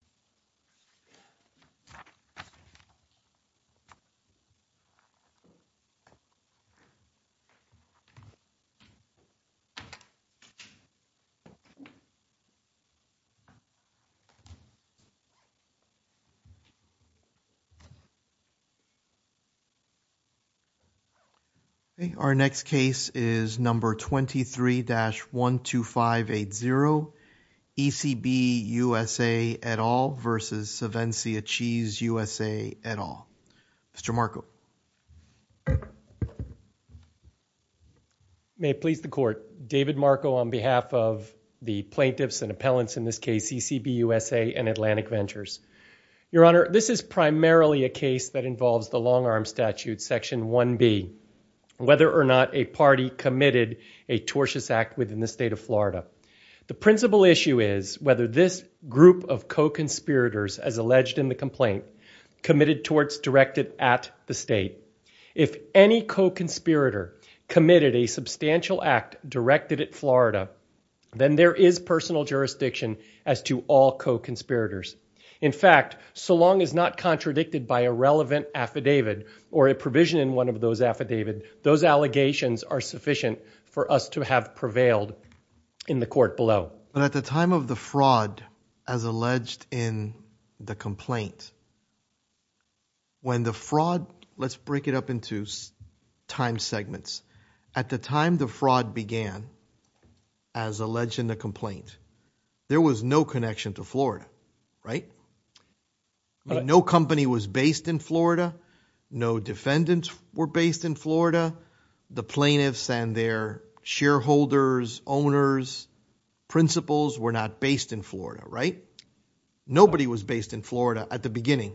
ECB USA, Inc. v. Savencia Cheese USA, Inc. v. Savencia Cheese USA, Inc. v. Savencia Cheese USA, Inc. v. Savencia Cheese USA, Inc. v. Savencia Cheese USA, Inc. v. Savencia Cheese USA, Inc. May it please the Court. David Marco on behalf of the Plaintiffs and Appellants in this case CCB USA and Atlantic Ventures, your Honor this is primarily a case that involves the long armed statute section one B whether or not a party committed a tortious act within the state of Florida the principle issue is whether this group of co-conspirators as alleged in the complaint committed torts directed at the state if any co-conspirator committed a substantial act directed at Florida then there is personal jurisdiction as to all co-conspirators in fact so long as not contradicted by a relevant affidavit or a provision in one of those affidavit those allegations are sufficient for us to have prevailed in the court below but at the time of the fraud as alleged in the complaint when the fraud let's break it up into time segments at the time the fraud began as alleged in the complaint there was no connection to Florida no company was based in Florida no defendants were based in Florida the plaintiffs and their shareholders owners principals were not based in Florida right nobody was based in Florida at the beginning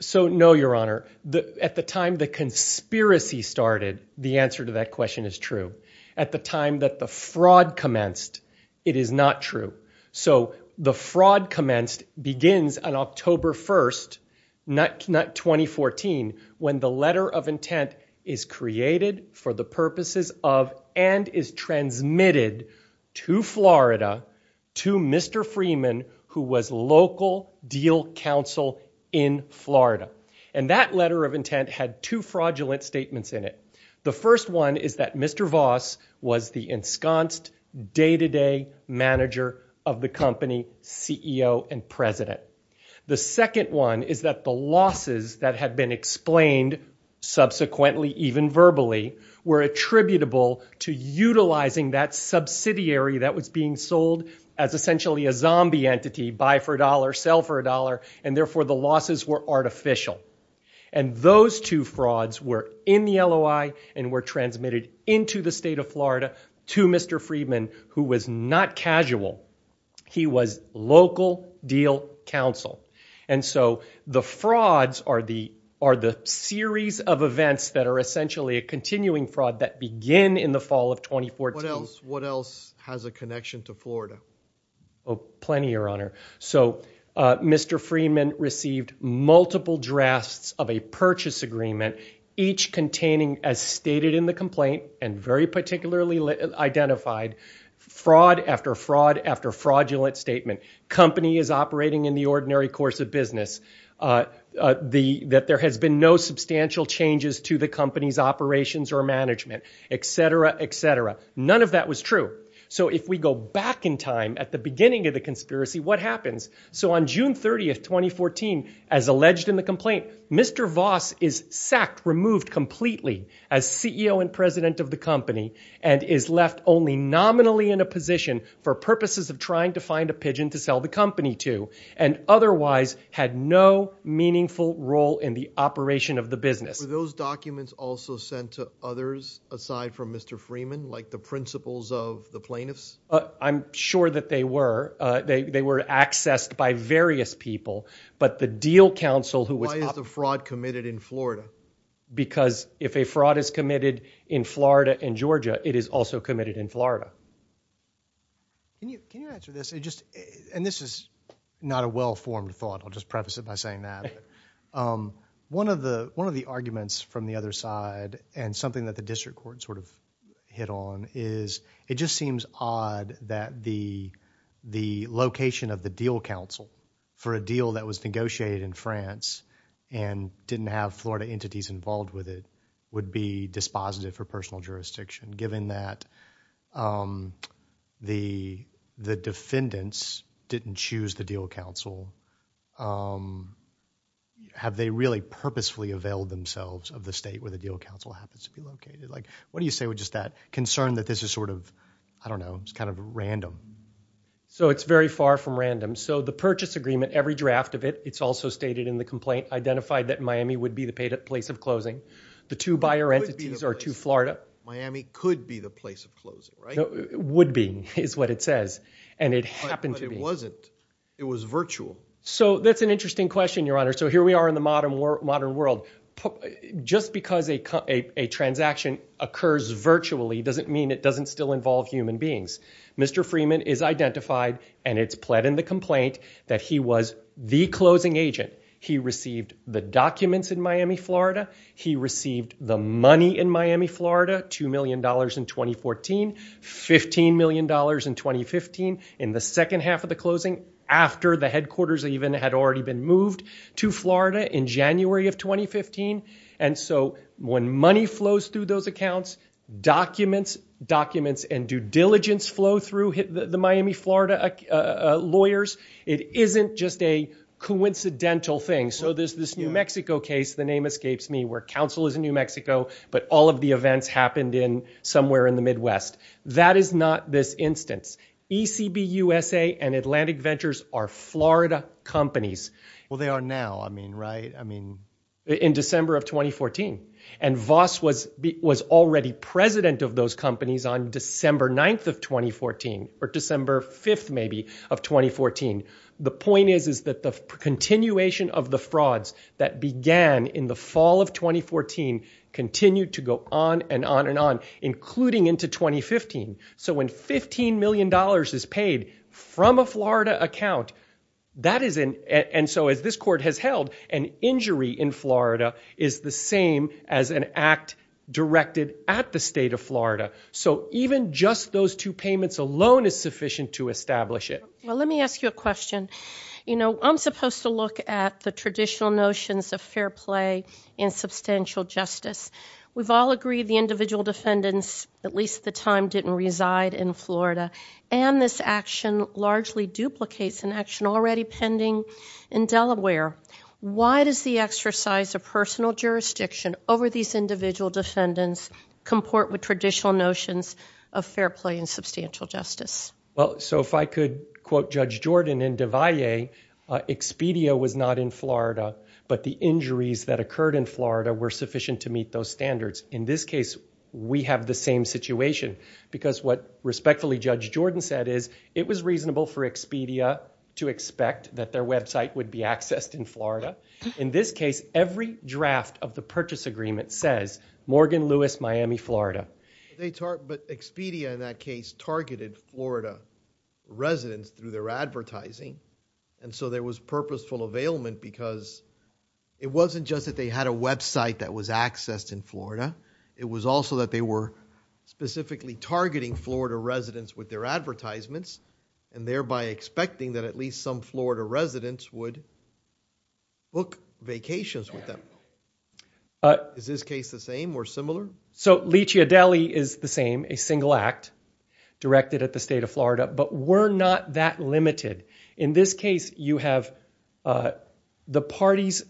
so no your honor the at the time the conspiracy started the answer to that is true at the time that the fraud commenced it is not true so the fraud commenced begins on October 1st not not 2014 when the letter of intent is created for the purposes of and is transmitted to Florida to mr. Freeman who was local deal counsel in Florida and that letter of intent had two fraudulent statements in it the first one is that mr. Voss was the ensconced day to day manager of the company CEO and president the second one is that the losses that had been explained subsequently even verbally were attributable to utilizing that subsidiary that was being sold as essentially a zombie entity buy for a dollar sell for a dollar and therefore the were artificial and those two frauds were in the LOI and were transmitted into the state of Florida to mr. Freeman who was not casual he was local deal counsel and so the frauds are the are the series of events that are essentially a continuing fraud that begin in the fall of 2014 else what has a connection to Florida Oh plenty your honor so mr. Freeman received multiple drafts of a purchase agreement each containing as stated in the complaint and very particularly identified fraud after fraud after fraudulent statement company is operating in the ordinary course of business the that there has been no substantial changes to the company's operations or management etc etc none of that was true so if we go back in time at the beginning of the conspiracy what happens so on June 30th 2014 as alleged in the complaint mr. Voss is sacked removed completely as CEO and president of the company and is left only nominally in a position for purposes of trying to find a pigeon to sell the company to and otherwise had no meaningful role in the operation of the business those documents also sent to others aside from mr. Freeman like the principles of the plaintiffs I'm sure that they were they were accessed by various people but the deal counsel who was the fraud committed in Florida because if a fraud is committed in Florida and Georgia it is also committed in Florida and this is not a well-formed thought I'll just preface it by saying that one of the one of the arguments from the other side and something that the district court sort of hit on is it just seems odd that the the location of the deal counsel for a deal that was negotiated in France and didn't have Florida entities involved with it would be dispositive for personal jurisdiction given that the the defendants didn't choose the deal counsel have they really purposefully availed themselves of the state where the deal counsel happens to be located like what do you say with just that concern that this is sort of I don't know it's kind of random so it's very far from random so the purchase agreement every draft of it it's also stated in the complaint identified that Miami would be the paid at place of closing the two buyer entities are to Florida Miami could be the place of closing right it would be is what it says and it happened it wasn't it was virtual so that's an interesting question your honor so here we are in the modern world modern world just because they cut a transaction occurs virtually doesn't mean it doesn't still involve human beings mr. Freeman is identified and it's pled in the complaint that he was the closing agent he received the documents in Miami Florida he received the money in Miami in 2014 15 million dollars in 2015 in the second half of the closing after the headquarters even had already been moved to Florida in January of 2015 and so when money flows through those accounts documents documents and due diligence flow through hit the Miami Florida lawyers it isn't just a coincidental thing so there's this New Mexico case the name escapes me where council is in New events happened in somewhere in the Midwest that is not this instance ECB USA and Atlantic Ventures are Florida companies well they are now I mean right I mean in December of 2014 and Voss was was already president of those companies on December 9th of 2014 or December 5th maybe of 2014 the point is is that the continuation of the frauds that began in the fall of 2014 continued to go on and on and on including into 2015 so when 15 million dollars is paid from a Florida account that is in and so as this court has held an injury in Florida is the same as an act directed at the state of Florida so even just those two payments alone is sufficient to establish it well let me ask you a question you know I'm supposed to look at the traditional notions of fair play in substantial justice we've all agreed the individual defendants at least the time didn't reside in Florida and this action largely duplicates an action already pending in Delaware why does the exercise a personal jurisdiction over these individual defendants comport with traditional notions of fair play and substantial justice well so if I could quote judge Jordan in Devoy a Expedia was not in Florida but the injuries that occurred in Florida were sufficient to meet those standards in this case we have the same situation because what respectfully judge Jordan said is it was reasonable for Expedia to expect that their website would be accessed in Florida in this case every draft of the purchase agreement says Morgan Lewis Miami Florida they taught but Expedia in that case targeted Florida residents through their advertising and so there was purposeful availment because it wasn't just that they had a website that was accessed in Florida it was also that they were specifically targeting Florida residents with their advertisements and thereby expecting that at least some Florida residents would book vacations with them but is this case the same or similar so lychee Adelie is the same a single act directed at the state of Florida but we're not that limited in this case you have the parties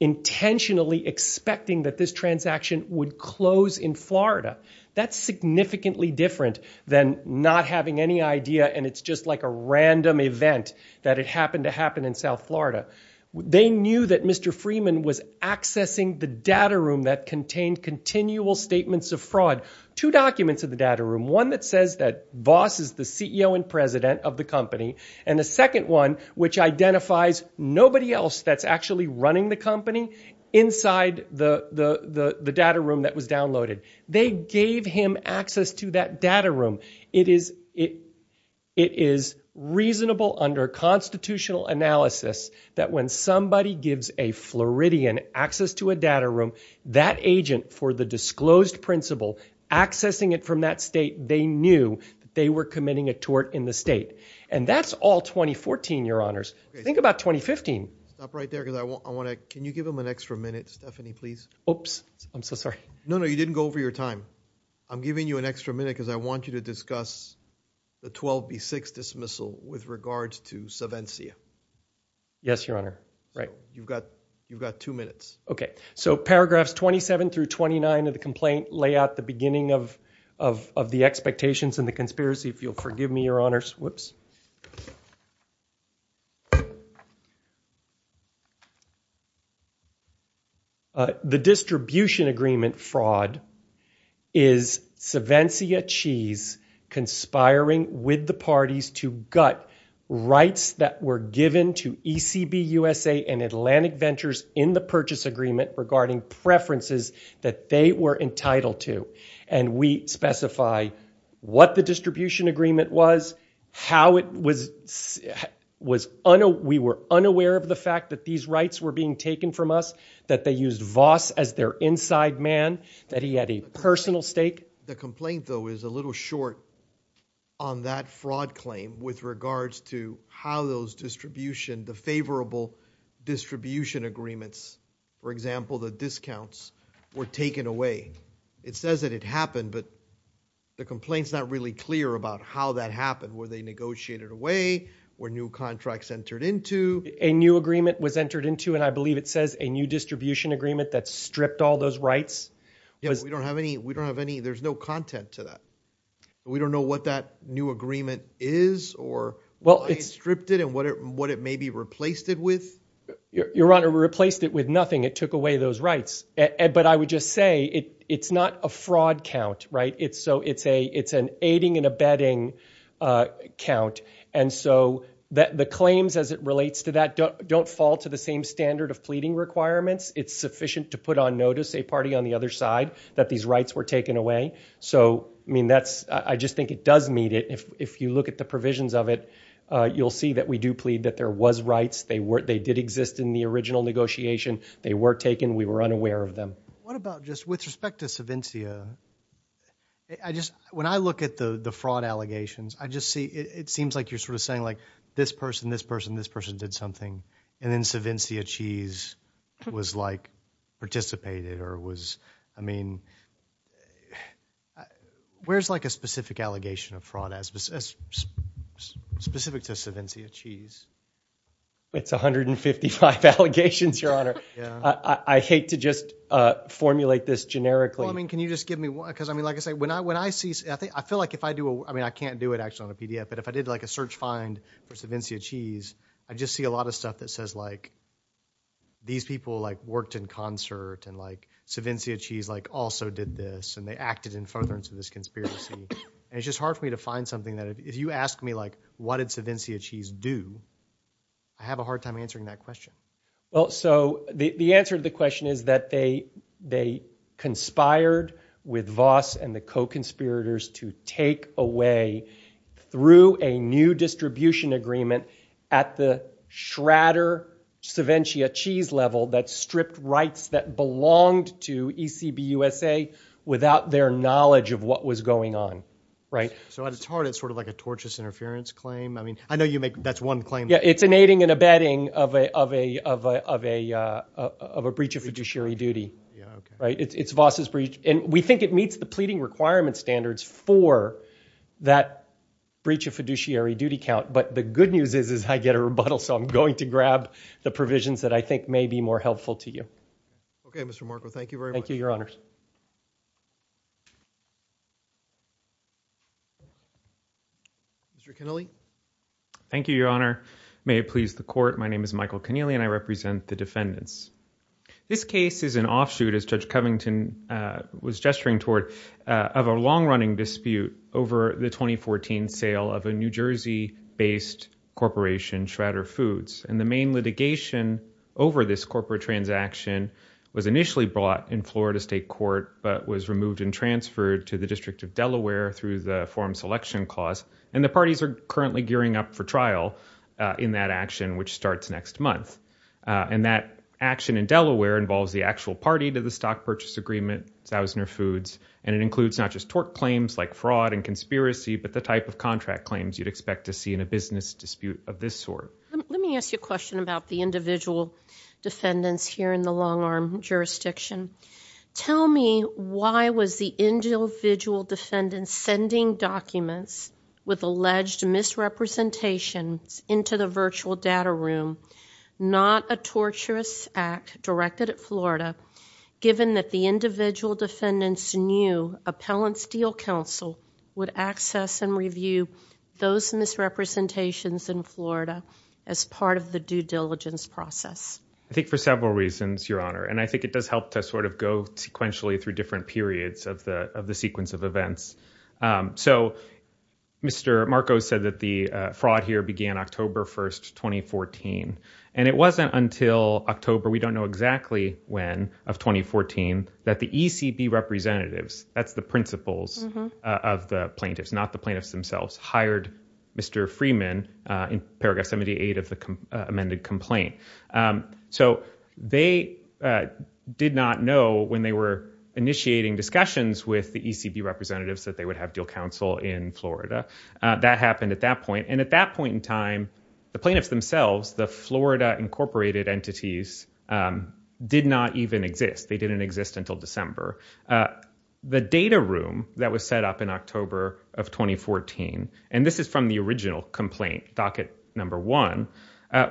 intentionally expecting that this transaction would close in Florida that's significantly different than not having any idea and it's just like a random event that it happened to happen in South Florida they knew that mr. Freeman was accessing the data room that contained continual statements of fraud two documents of the data room one that says that boss is the CEO and president of the company and the second one which identifies nobody else that's actually running the company inside the the the the data room that was downloaded they gave him access to that data room it is it it is reasonable under constitutional analysis that when somebody gives a Floridian access to a data room that agent for the disclosed principle accessing it from that state they knew they were committing a tort in the state and that's all 2014 your honors think about 2015 stop right there because I want I want to can you give them an extra minute Stephanie please oops I'm so sorry no no you didn't go over your time I'm giving you an extra minute because I want you to discuss the 12b6 dismissal with regards to seven see ya yes your honor right you've got you've got two minutes okay so paragraphs 27 through 29 of the complaint lay out the beginning of of the expectations and the conspiracy if you'll forgive me your honors whoops the distribution agreement fraud is Seventy a cheese conspiring with the parties to gut rights that were given to ECB USA and Atlantic ventures in the purchase agreement regarding preferences that they were entitled to and we specify what the distribution agreement was how it was was on a we were unaware of the fact that these rights were being taken from us that they used Voss as their inside man that he had a personal stake the complaint though is a little short on that fraud claim with regards to how those distribution the favorable distribution agreements for example the discounts were taken away it says that it happened but the complaints not really clear about how that happened were they negotiated away where new contracts entered into a new agreement was entered into and I believe it says a new distribution agreement that stripped all those rights we don't have any we don't have any there's no content to that we don't know what that new agreement is or well it's stripped it and what it what it may be replaced it with your honor we replaced it with nothing it took away those rights and but I would just say it it's not a fraud count right it's so it's a it's an aiding and abetting count and so that the claims as it relates to that don't fall to the same standard of pleading requirements it's sufficient to put on notice a party on the other side that these rights were taken away so I mean that's I just think it does meet it if you look at the provisions of it you'll see that we do plead that there was rights they were they did exist in the original negotiation they were taken we were unaware of them what about just with respect to Seventia I just when I look at the the fraud allegations I just see it seems like you're sort of saying like this person this person this person did something and then Seventia cheese was like participated or was I mean where's like a specific allegation of fraud as specific to Seventia cheese it's 155 allegations your honor I hate to just formulate this generically I mean can you just give me one because I mean like I say when I when I see I think I feel like if I do I mean I can't do it actually on a PDF but if I did like a search find for Seventia cheese I just see a lot of stuff that says like these people like worked in concert and like Seventia cheese like also did this and they acted in furtherance of this conspiracy and it's just hard for me to find something that if you ask me like what did Seventia cheese do I have a hard time answering that question well so the answer to the question is that they they conspired with Voss and the co-conspirators to take away through a new distribution agreement at the Schrader Seventia cheese level that stripped rights that belonged to ECB USA without their knowledge of what was going on right so it's hard it's sort of like a tortious interference claim I mean I know you make that's one claim yeah it's an aiding and abetting of a of a of a of a breach of fiduciary duty right it's Voss's breach and we think it meets the pleading requirement standards for that breach of fiduciary duty count but the good news is is I get a rebuttal so I'm going to grab the provisions that I think may be more helpful to you okay mr. Marco thank you very thank you your honors mr. Kennelly thank you your honor may it please the court my name is Michael Kennelly and I represent the defendants this case is an offshoot as judge Covington was gesturing toward of a long-running dispute over the 2014 sale of a New Jersey based corporation Schrader Foods and the main litigation over this corporate transaction was initially brought in Florida State Court but was removed and transferred to the District of Delaware through the forum selection clause and the parties are currently gearing up for trial in that action which starts next month and that action in Delaware involves the actual party to the stock purchase agreement Zausner Foods and it includes not just tort claims like fraud and conspiracy but the type of contract claims you'd expect to see in a business dispute of this sort let me ask you a question about the individual defendants here in the long-arm jurisdiction tell me why was the individual defendants sending documents with alleged misrepresentations into the virtual data room not a torturous act directed at Florida given that the individual defendants knew Appellant Steel Council would access and review those misrepresentations in Florida as part of the due diligence process I think for several reasons your honor and I think it does help to sort of go sequentially through different periods of the of the sequence of events so mr. Marcos said that the fraud here began October 1st 2014 and it wasn't until October we don't know exactly when of 2014 that the ECB representatives that's the principles of the plaintiffs not the plaintiffs themselves hired mr. Freeman in paragraph 78 of the amended complaint so they did not know when they were initiating discussions with the ECB representatives that they would have deal council in Florida that happened at that point and at that point in time the plaintiffs themselves the Florida incorporated entities did not even exist they didn't exist until December the data room that was set up in October of 2014 and this is from the original complaint docket number one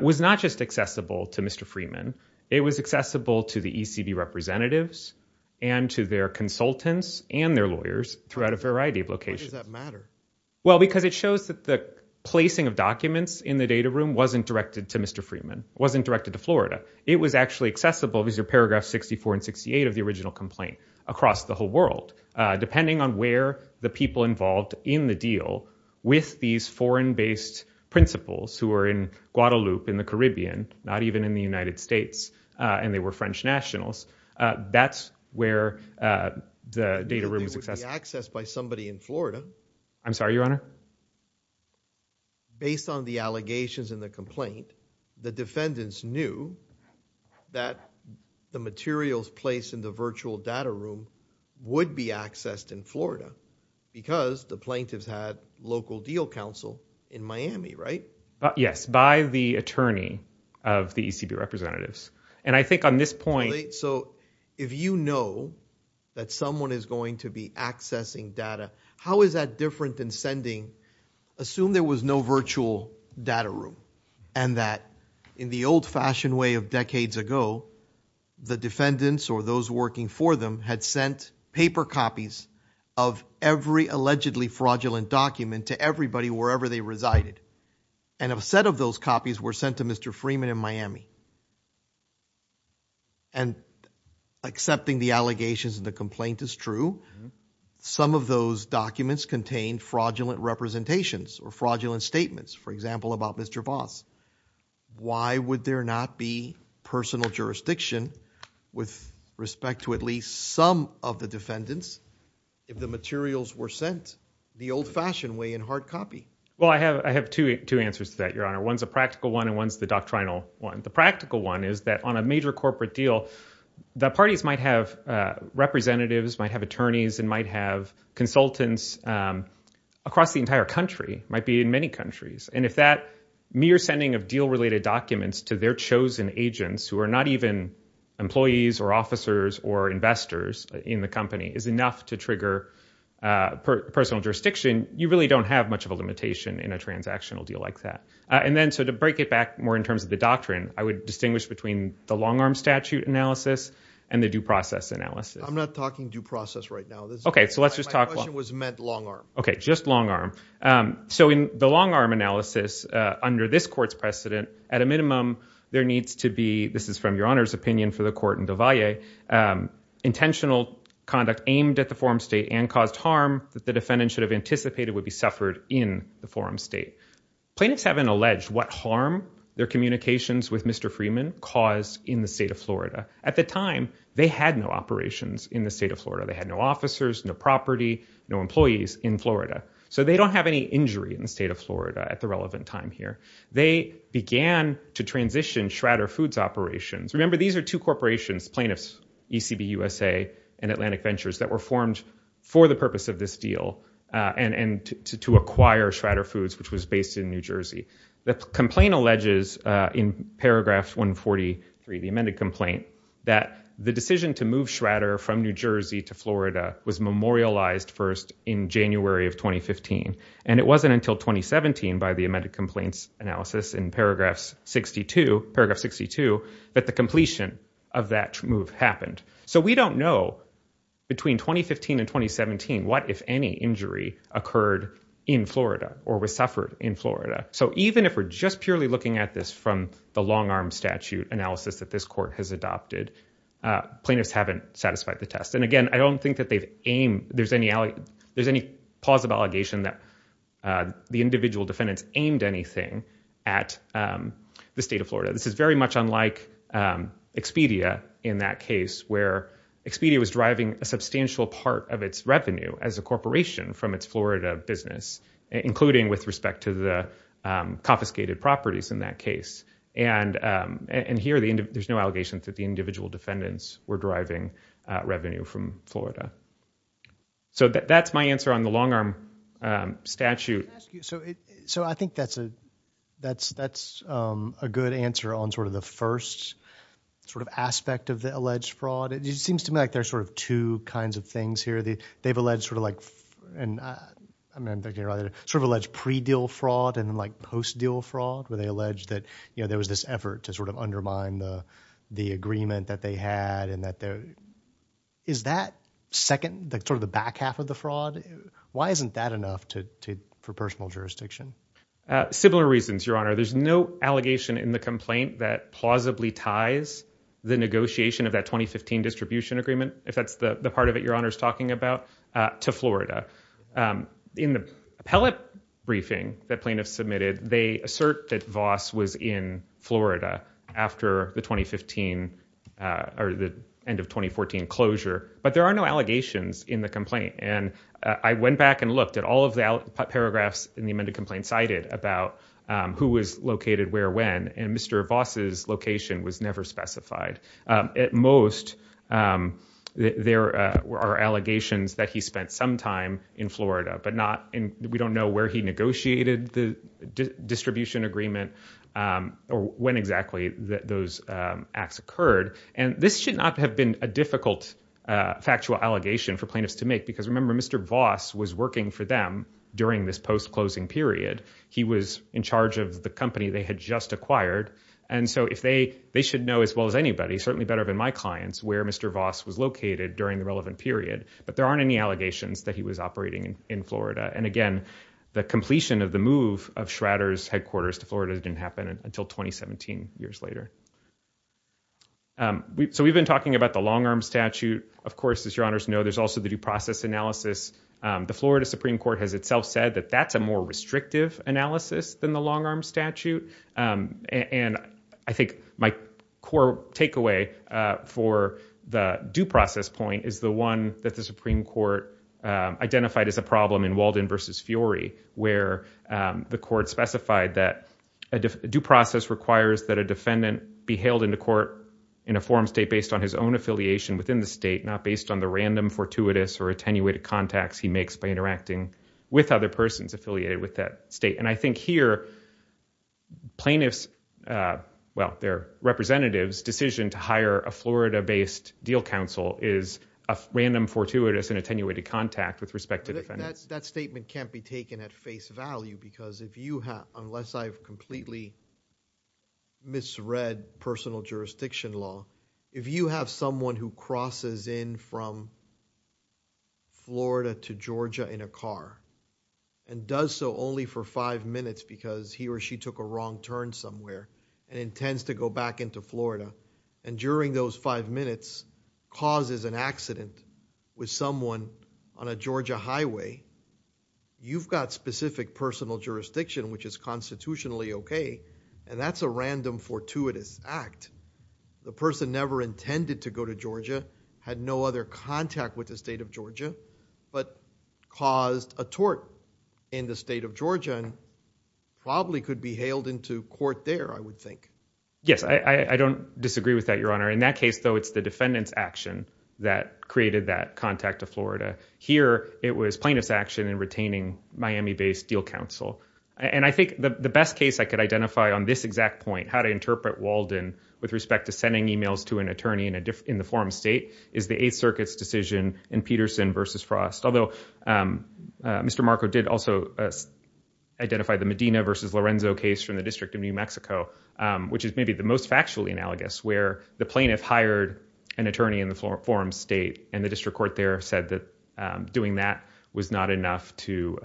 was not just accessible to mr. Freeman it was accessible to the ECB representatives and to their consultants and their lawyers throughout a variety of locations that matter well because it shows that the placing of documents in the data room wasn't directed to mr. Freeman wasn't directed to Florida it was actually accessible these are paragraphs 64 and 68 of the original complaint across the whole world depending on where the people involved in the deal with these foreign based principles who are in Guadalupe in the Caribbean not even in the United States and they were French nationals that's where the data room is accessed by somebody in Florida I'm sorry your honor based on the allegations in the complaint the defendants knew that the materials placed in the virtual data room would be accessed in Florida because the plaintiffs had local deal counsel in Miami right yes by the attorney of the ECB representatives and I think on this point so if you know that someone is going to be accessing data how is that different than sending assume there was no virtual data room and that in the old-fashioned way of decades ago the defendants or those working for them had sent paper copies of every allegedly fraudulent document to everybody wherever they resided and a set of those copies were sent to mr. Freeman in Miami and accepting the allegations and the complaint is true some of those documents contain fraudulent representations or fraudulent statements for example about mr. Voss why would there not be personal jurisdiction with respect to at least some of the defendants if the materials were sent the old-fashioned way hard copy well I have I have two answers to that your honor one's a practical one and one's the doctrinal one the practical one is that on a major corporate deal the parties might have representatives might have attorneys and might have consultants across the entire country might be in many countries and if that mere sending of deal related documents to their chosen agents who are not even employees or officers or investors in the company is enough to trigger personal jurisdiction you really don't have much of a limitation in a transactional deal like that and then so to break it back more in terms of the doctrine I would distinguish between the long-arm statute analysis and the due process analysis I'm not talking due process right now okay so let's just talk was meant long arm okay just long arm so in the long arm analysis under this courts precedent at a minimum there needs to be this is from your honor's opinion for the court intentional conduct aimed at the forum state and caused harm that the defendant should have anticipated would be suffered in the forum state plaintiffs have an alleged what harm their communications with mr. Freeman caused in the state of Florida at the time they had no operations in the state of Florida they had no officers no property no employees in Florida so they don't have any injury in the state of Florida at the relevant time here they began to transition Shradder Foods operations remember these are two corporations plaintiffs ECB USA and Atlantic Ventures that were formed for the purpose of this deal and and to acquire Shradder Foods which was based in New Jersey the complaint alleges in paragraph 143 the amended complaint that the decision to move Shradder from New Jersey to Florida was memorialized first in January of 2015 and it wasn't until 2017 by the amended complaints analysis in paragraphs 62 paragraph 62 but the completion of that move happened so we don't know between 2015 and 2017 what if any injury occurred in Florida or was suffered in Florida so even if we're just purely looking at this from the long arm statute analysis that this court has adopted plaintiffs haven't satisfied the test and again I don't think that they've aimed there's any alley there's any positive allegation that the individual defendants aimed anything at the state of Florida this is very much unlike Expedia in that case where Expedia was driving a substantial part of its revenue as a corporation from its Florida business including with respect to the confiscated properties in that case and and here the end of there's no allegations that the individual defendants were driving revenue from Florida so that's my answer on the long arm statute so so I think that's a that's that's a good answer on sort of the first sort of aspect of the alleged fraud it just seems to me like there's sort of two kinds of things here they they've alleged sort of like and I mean they're either sort of alleged pre deal fraud and like post deal fraud where they that you know there was this effort to sort of undermine the the agreement that they had and that there is that second the sort of the back half of the fraud why isn't that enough to for personal jurisdiction similar reasons your honor there's no allegation in the complaint that plausibly ties the negotiation of that 2015 distribution agreement if that's the part of it your honor is talking about to Florida in the appellate briefing that plaintiffs submitted they assert that Voss was in Florida after the 2015 or the end of 2014 closure but there are no allegations in the complaint and I went back and looked at all of the paragraphs in the amended complaint cited about who was located where when and Mr. Voss's location was never specified at most there were allegations that he spent some time in Florida but not in we don't know where he negotiated the distribution agreement or when exactly that those acts occurred and this should not have been a difficult factual allegation for plaintiffs to make because remember Mr. Voss was working for them during this post-closing period he was in charge of the company they had just acquired and so if they they should know as well as anybody certainly better than my clients where Mr. Voss was located during the relevant period but there aren't any allegations that he was operating in Florida and again the completion of the move of Schrader's headquarters to Florida didn't happen until 2017 years later so we've been talking about the long-arm statute of course as your honors know there's also the due process analysis the Florida Supreme Court has itself said that that's a more restrictive analysis than the long-arm statute and I think my core for the due process point is the one that the Supreme Court identified as a problem in Walden versus Fiori where the court specified that a due process requires that a defendant be hailed into court in a forum state based on his own affiliation within the state not based on the random fortuitous or attenuated contacts he makes by interacting with other persons affiliated with that state and I think here plaintiffs well their representatives decision to hire a Florida based deal counsel is a random fortuitous and attenuated contact with respect to that statement can't be taken at face value because if you have unless I've completely misread personal jurisdiction law if you have someone who crosses in from Florida to Georgia in a car and does so only for five minutes because he or she took a wrong turn somewhere and intends to go back into Florida and during those five minutes causes an accident with someone on a Georgia highway you've got specific personal jurisdiction which is constitutionally okay and that's a random fortuitous act the person never intended to go to Georgia had no other contact with the state of Georgia but caused a tort in the state of Georgia and probably could be hailed into court there I would think yes I I don't disagree with that your honor in that case though it's the defendants action that created that contact of Florida here it was plaintiffs action in retaining Miami based deal counsel and I think the best case I could identify on this exact point how I interpret Walden with respect to sending emails to an attorney in a different in the forum state is the Eighth Circuit's decision in Peterson versus Frost although Mr. Marco did also identify the Medina versus Lorenzo case from the District of New Mexico which is maybe the most factually analogous where the plaintiff hired an attorney in the floor forum state and the district court there said that doing that was not enough to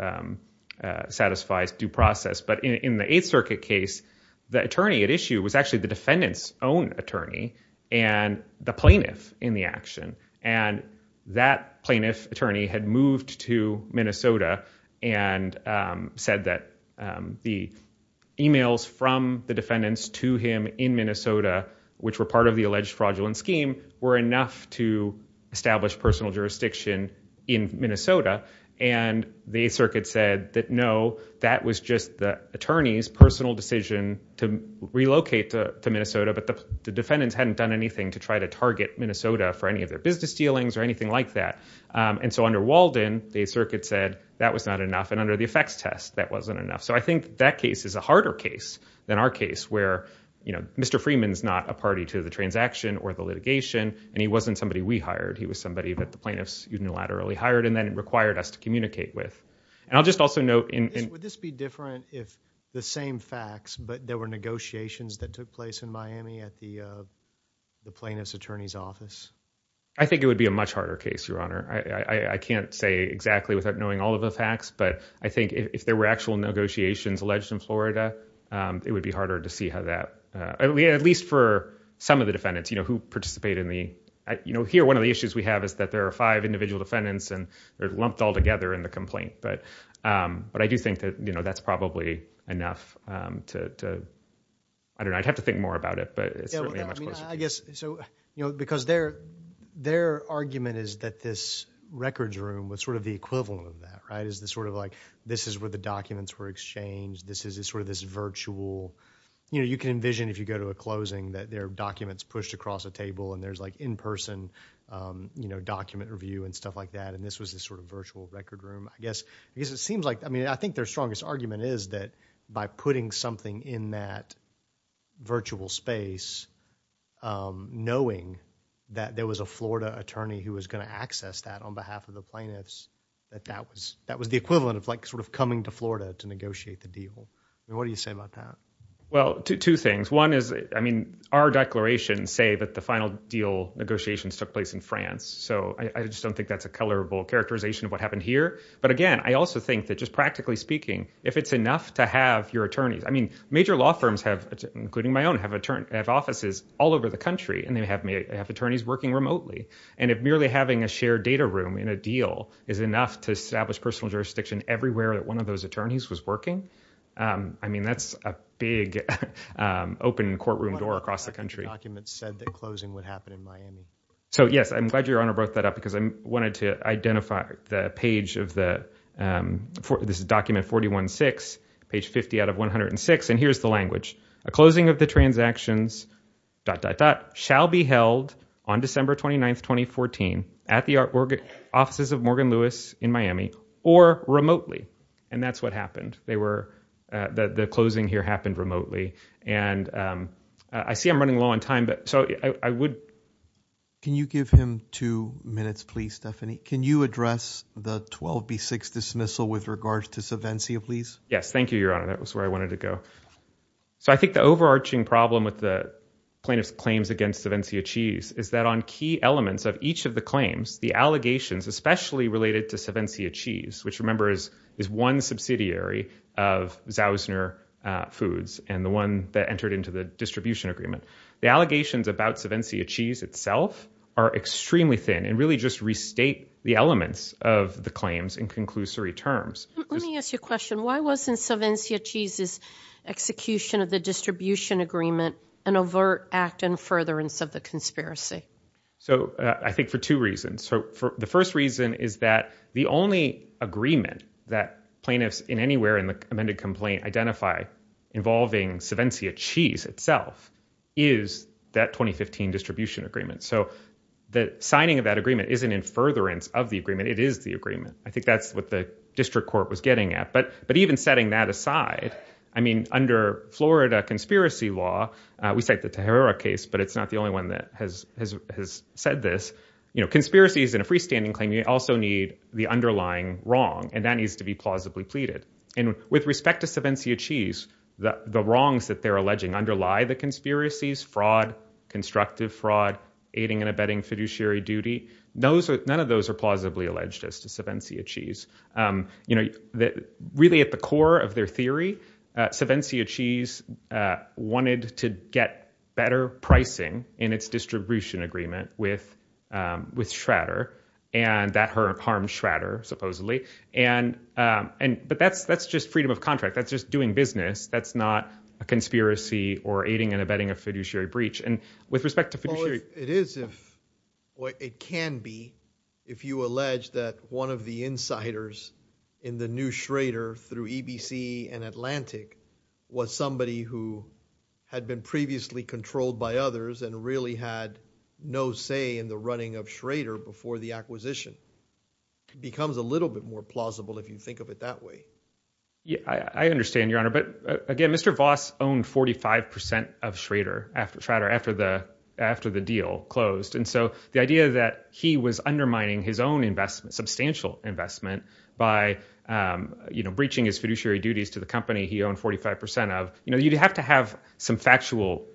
satisfy due process but in the Eighth Circuit case the attorney at issue was actually the defendants own attorney and the plaintiff in the action and that plaintiff attorney had moved to Minnesota and said that the emails from the defendants to him in Minnesota which were part of the alleged fraudulent scheme were enough to establish personal jurisdiction in Minnesota and the circuit said that no that was just the attorney's personal decision to relocate to Minnesota but the defendants hadn't done anything to try to target Minnesota for any of their business dealings or anything like that and so under Walden the circuit said that was not enough and under the effects test that wasn't enough so I think that case is a harder case than our case where you know Mr. Freeman's not a party to the transaction or the litigation and he wasn't somebody we hired he was somebody that the plaintiffs unilaterally hired and then it required us to communicate with and I'll just also know would this be different if the same facts but there were negotiations that took place in Miami at the plaintiff's attorney's office I think it would be a much harder case your honor I can't say exactly without knowing all of the facts but I think if there were actual negotiations alleged in Florida it would be harder to see how that at least for some of the defendants you know who participate in the you know here one of the issues we have is that there are five individual defendants and they're lumped all together in the complaint but but I do think that you know that's probably enough to I don't know I'd have to think more about it but I guess so you know because their their argument is that this records room was sort of the equivalent of that right is the sort of like this is where the documents were exchanged this is sort of this virtual you know you can envision if you go to a closing that their documents pushed across a table and there's like in-person you know document review and stuff like that and this was this sort of virtual record room I guess because it seems like I mean I think their strongest argument is that by putting something in that virtual space knowing that there was a Florida attorney who was going to access that on behalf of the plaintiffs that that was that was the equivalent of like sort of coming to Florida to negotiate the deal what do you say about that well two things one is I mean our declarations say that the final deal negotiations took place in France so I just don't think that's a colorable characterization of what happened here but again I also think that just practically speaking if it's enough to have your attorneys I mean major law firms have including my own have a turn at offices all over the country and they have may have attorneys working remotely and if merely having a shared data room in a deal is enough to establish personal jurisdiction everywhere that one of those attorneys was working I mean that's a big open courtroom door across the country documents said that closing would happen in Miami so yes I'm glad your honor brought that up because I wanted to identify the page of the for this is document 41 6 page 50 out of 106 and here's the language a closing of the transactions dot dot dot shall be held on December 29th 2014 at the artwork offices of Morgan Lewis in Miami or remotely and that's what happened they were the closing here happened remotely and I see I'm running low on time but so I would can you give him two minutes please Stephanie can you address the 12b6 dismissal with regards to subvention please yes thank you your honor that was where I wanted to go so I think the overarching problem with the plaintiff's claims against events he achieves is that on key elements of each of the claims the allegations especially related to seven C achieves which remember is is one subsidiary of zausner foods and the one that entered into the distribution agreement the allegations about seven C achieves itself are extremely thin and really just restate the elements of the claims in conclusory terms let me ask you a question why wasn't seven C achieves is execution of the distribution agreement an overt act and furtherance of the conspiracy so I think for two reasons so the first reason is that the only agreement that plaintiffs in anywhere in the amended complaint identify involving seven C achieves itself is that 2015 distribution agreement so the signing of that agreement isn't in furtherance of the agreement it is the agreement I think that's what the district court was getting at but but even setting that aside I mean under Florida conspiracy law we take the terror case but it's not the only one that has said this you know conspiracies in a freestanding claim you also need the underlying wrong and that needs to be plausibly pleaded and with respect to seven C achieves that the wrongs that they're alleging underlie the conspiracies fraud constructive fraud aiding and abetting fiduciary duty those are none of those are plausibly alleged as to seven C achieves you know that really at the core of their theory seven C achieves wanted to get better pricing in its distribution agreement with with Schrader and that hurt harm Schrader supposedly and and but that's that's just freedom of contract that's just doing business that's not a conspiracy or aiding and abetting a fiduciary breach and with respect to fiduciary it is if what it can be if you allege that one of the insiders in the new Schrader through EBC and Atlantic was somebody who had been previously controlled by others and really had no say in the running of Schrader before the acquisition it becomes a little bit more plausible if you think of it that way yeah I understand your honor but again mr. Voss owned 45% of Schrader after Schrader after the after the deal closed and so the idea that he was undermining his own investment substantial investment by you know breaching his fiduciary duties to the company he owned 45% of you know you'd have to have some factual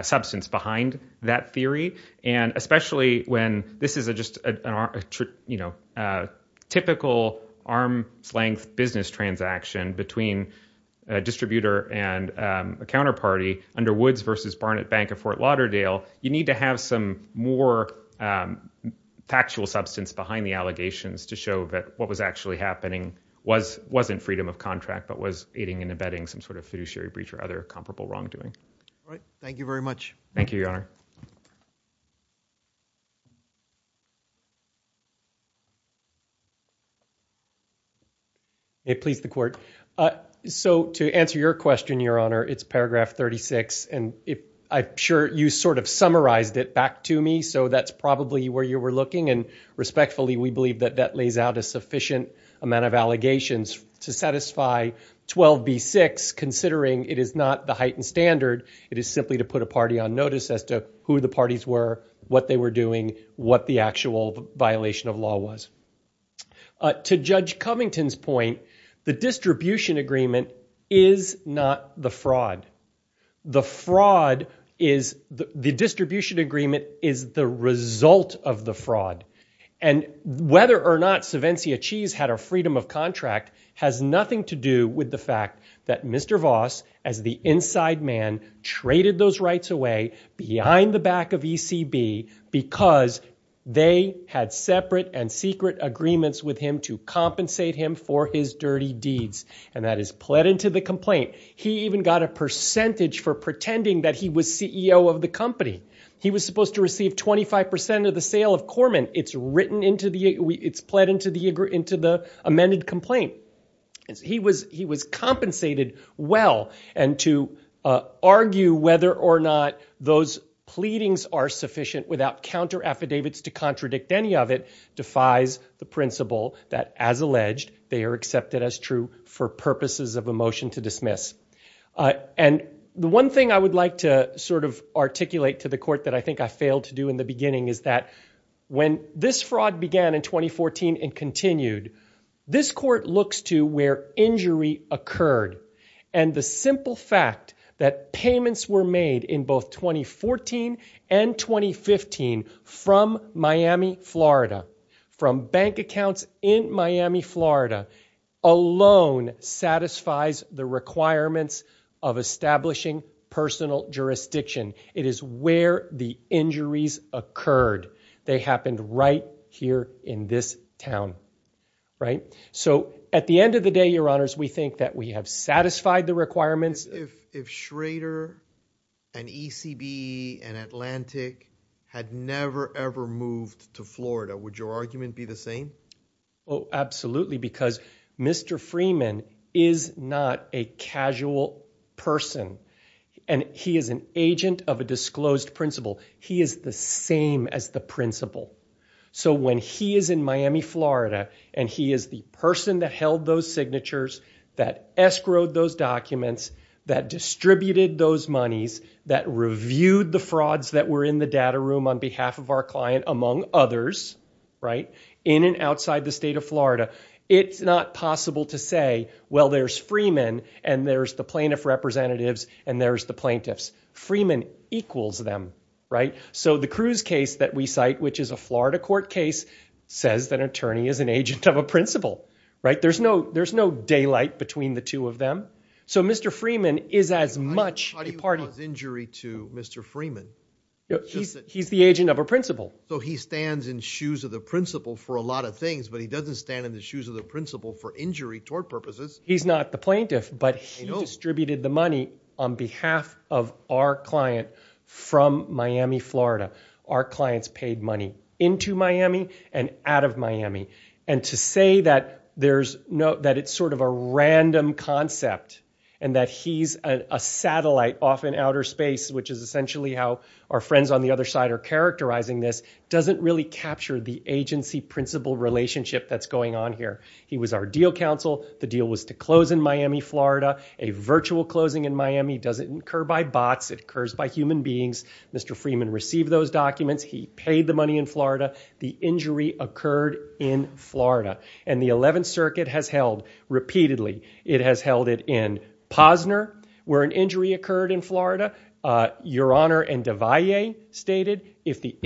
substance behind that theory and especially when this is a just a you know typical arm's-length business transaction between a distributor and a counterparty under Woods versus Barnett Bank of Fort Lauderdale you need to have some more factual substance behind the allegations to show that what was actually happening was wasn't freedom of contract but was aiding and abetting some sort of fiduciary breach or other comparable wrongdoing right thank you very much thank you your honor it pleased the so to answer your question your honor it's paragraph 36 and if I'm sure you sort of summarized it back to me so that's probably where you were looking and respectfully we believe that that lays out a sufficient amount of allegations to satisfy 12b6 considering it is not the heightened standard it is simply to put a party on notice as to who the parties were what they were doing what the actual violation of law was to judge Covington's point the distribution agreement is not the fraud the fraud is the distribution agreement is the result of the fraud and whether or not Civencia cheese had a freedom of contract has nothing to do with the that mr. Voss as the inside man traded those rights away behind the back of ECB because they had separate and secret agreements with him to compensate him for his dirty deeds and that is pled into the complaint he even got a percentage for pretending that he was CEO of the company he was supposed to receive 25% of the sale of Corman it's written into the it's pled into the agree amended complaint he was he was compensated well and to argue whether or not those pleadings are sufficient without counter affidavits to contradict any of it defies the principle that as alleged they are accepted as true for purposes of a motion to dismiss and the one thing I would like to sort of articulate to the court that I think I failed to do in the beginning is that when this fraud began in 2014 and continued this court looks to where injury occurred and the simple fact that payments were made in both 2014 and 2015 from Miami Florida from bank accounts in Miami Florida alone satisfies the requirements of establishing personal jurisdiction it is where the injuries occurred they happened right here in this town right so at the end of the day your honors we think that we have satisfied the requirements if Schrader and ECB and Atlantic had never ever moved to Florida would your argument be the same oh absolutely because mr. Freeman is not a casual person and he is an agent of a disclosed principal he is the same as the principal so when he is in Miami Florida and he is the person that held those signatures that escrowed those documents that distributed those monies that reviewed the frauds that were in the data room on behalf of our client among others right in and outside the state of Florida it's not possible to say well there's Freeman and there's the plaintiff representatives and there's the plaintiffs Freeman equals them right so the Cruz case that we cite which is a Florida court case says that attorney is an agent of a principal right there's no there's no daylight between the two of them so mr. Freeman is as much part of injury to mr. Freeman he's the agent of a principal so he stands in shoes of the principal for a lot of things but he doesn't stand in the shoes of the principal for injury tort purposes he's not the plaintiff but he distributed the money on behalf of our client from Miami Florida our clients paid money into Miami and out of Miami and to say that there's no that it's sort of a random concept and that he's a satellite off in outer space which is essentially how our friends on the other side are characterizing this doesn't really capture the agency principal relationship that's going on here he was our deal counsel the deal was to close in Miami Florida a virtual closing in Miami doesn't occur by bots it occurs by human beings mr. Freeman received those documents he paid the money in Florida the injury occurred in Florida and the 11th Circuit has held repeatedly it has held it in Posner where an injury occurred in Florida your honor and Devoy a stated if the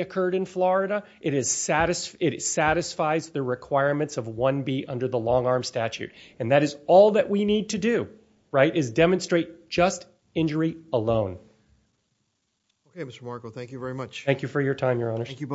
occurred in Florida it is saddest it satisfies the requirements of 1b under the long arm statute and that is all that we need to do right is demonstrate just injury alone okay mr. Margo thank you very much thank you for your time your honor thank you both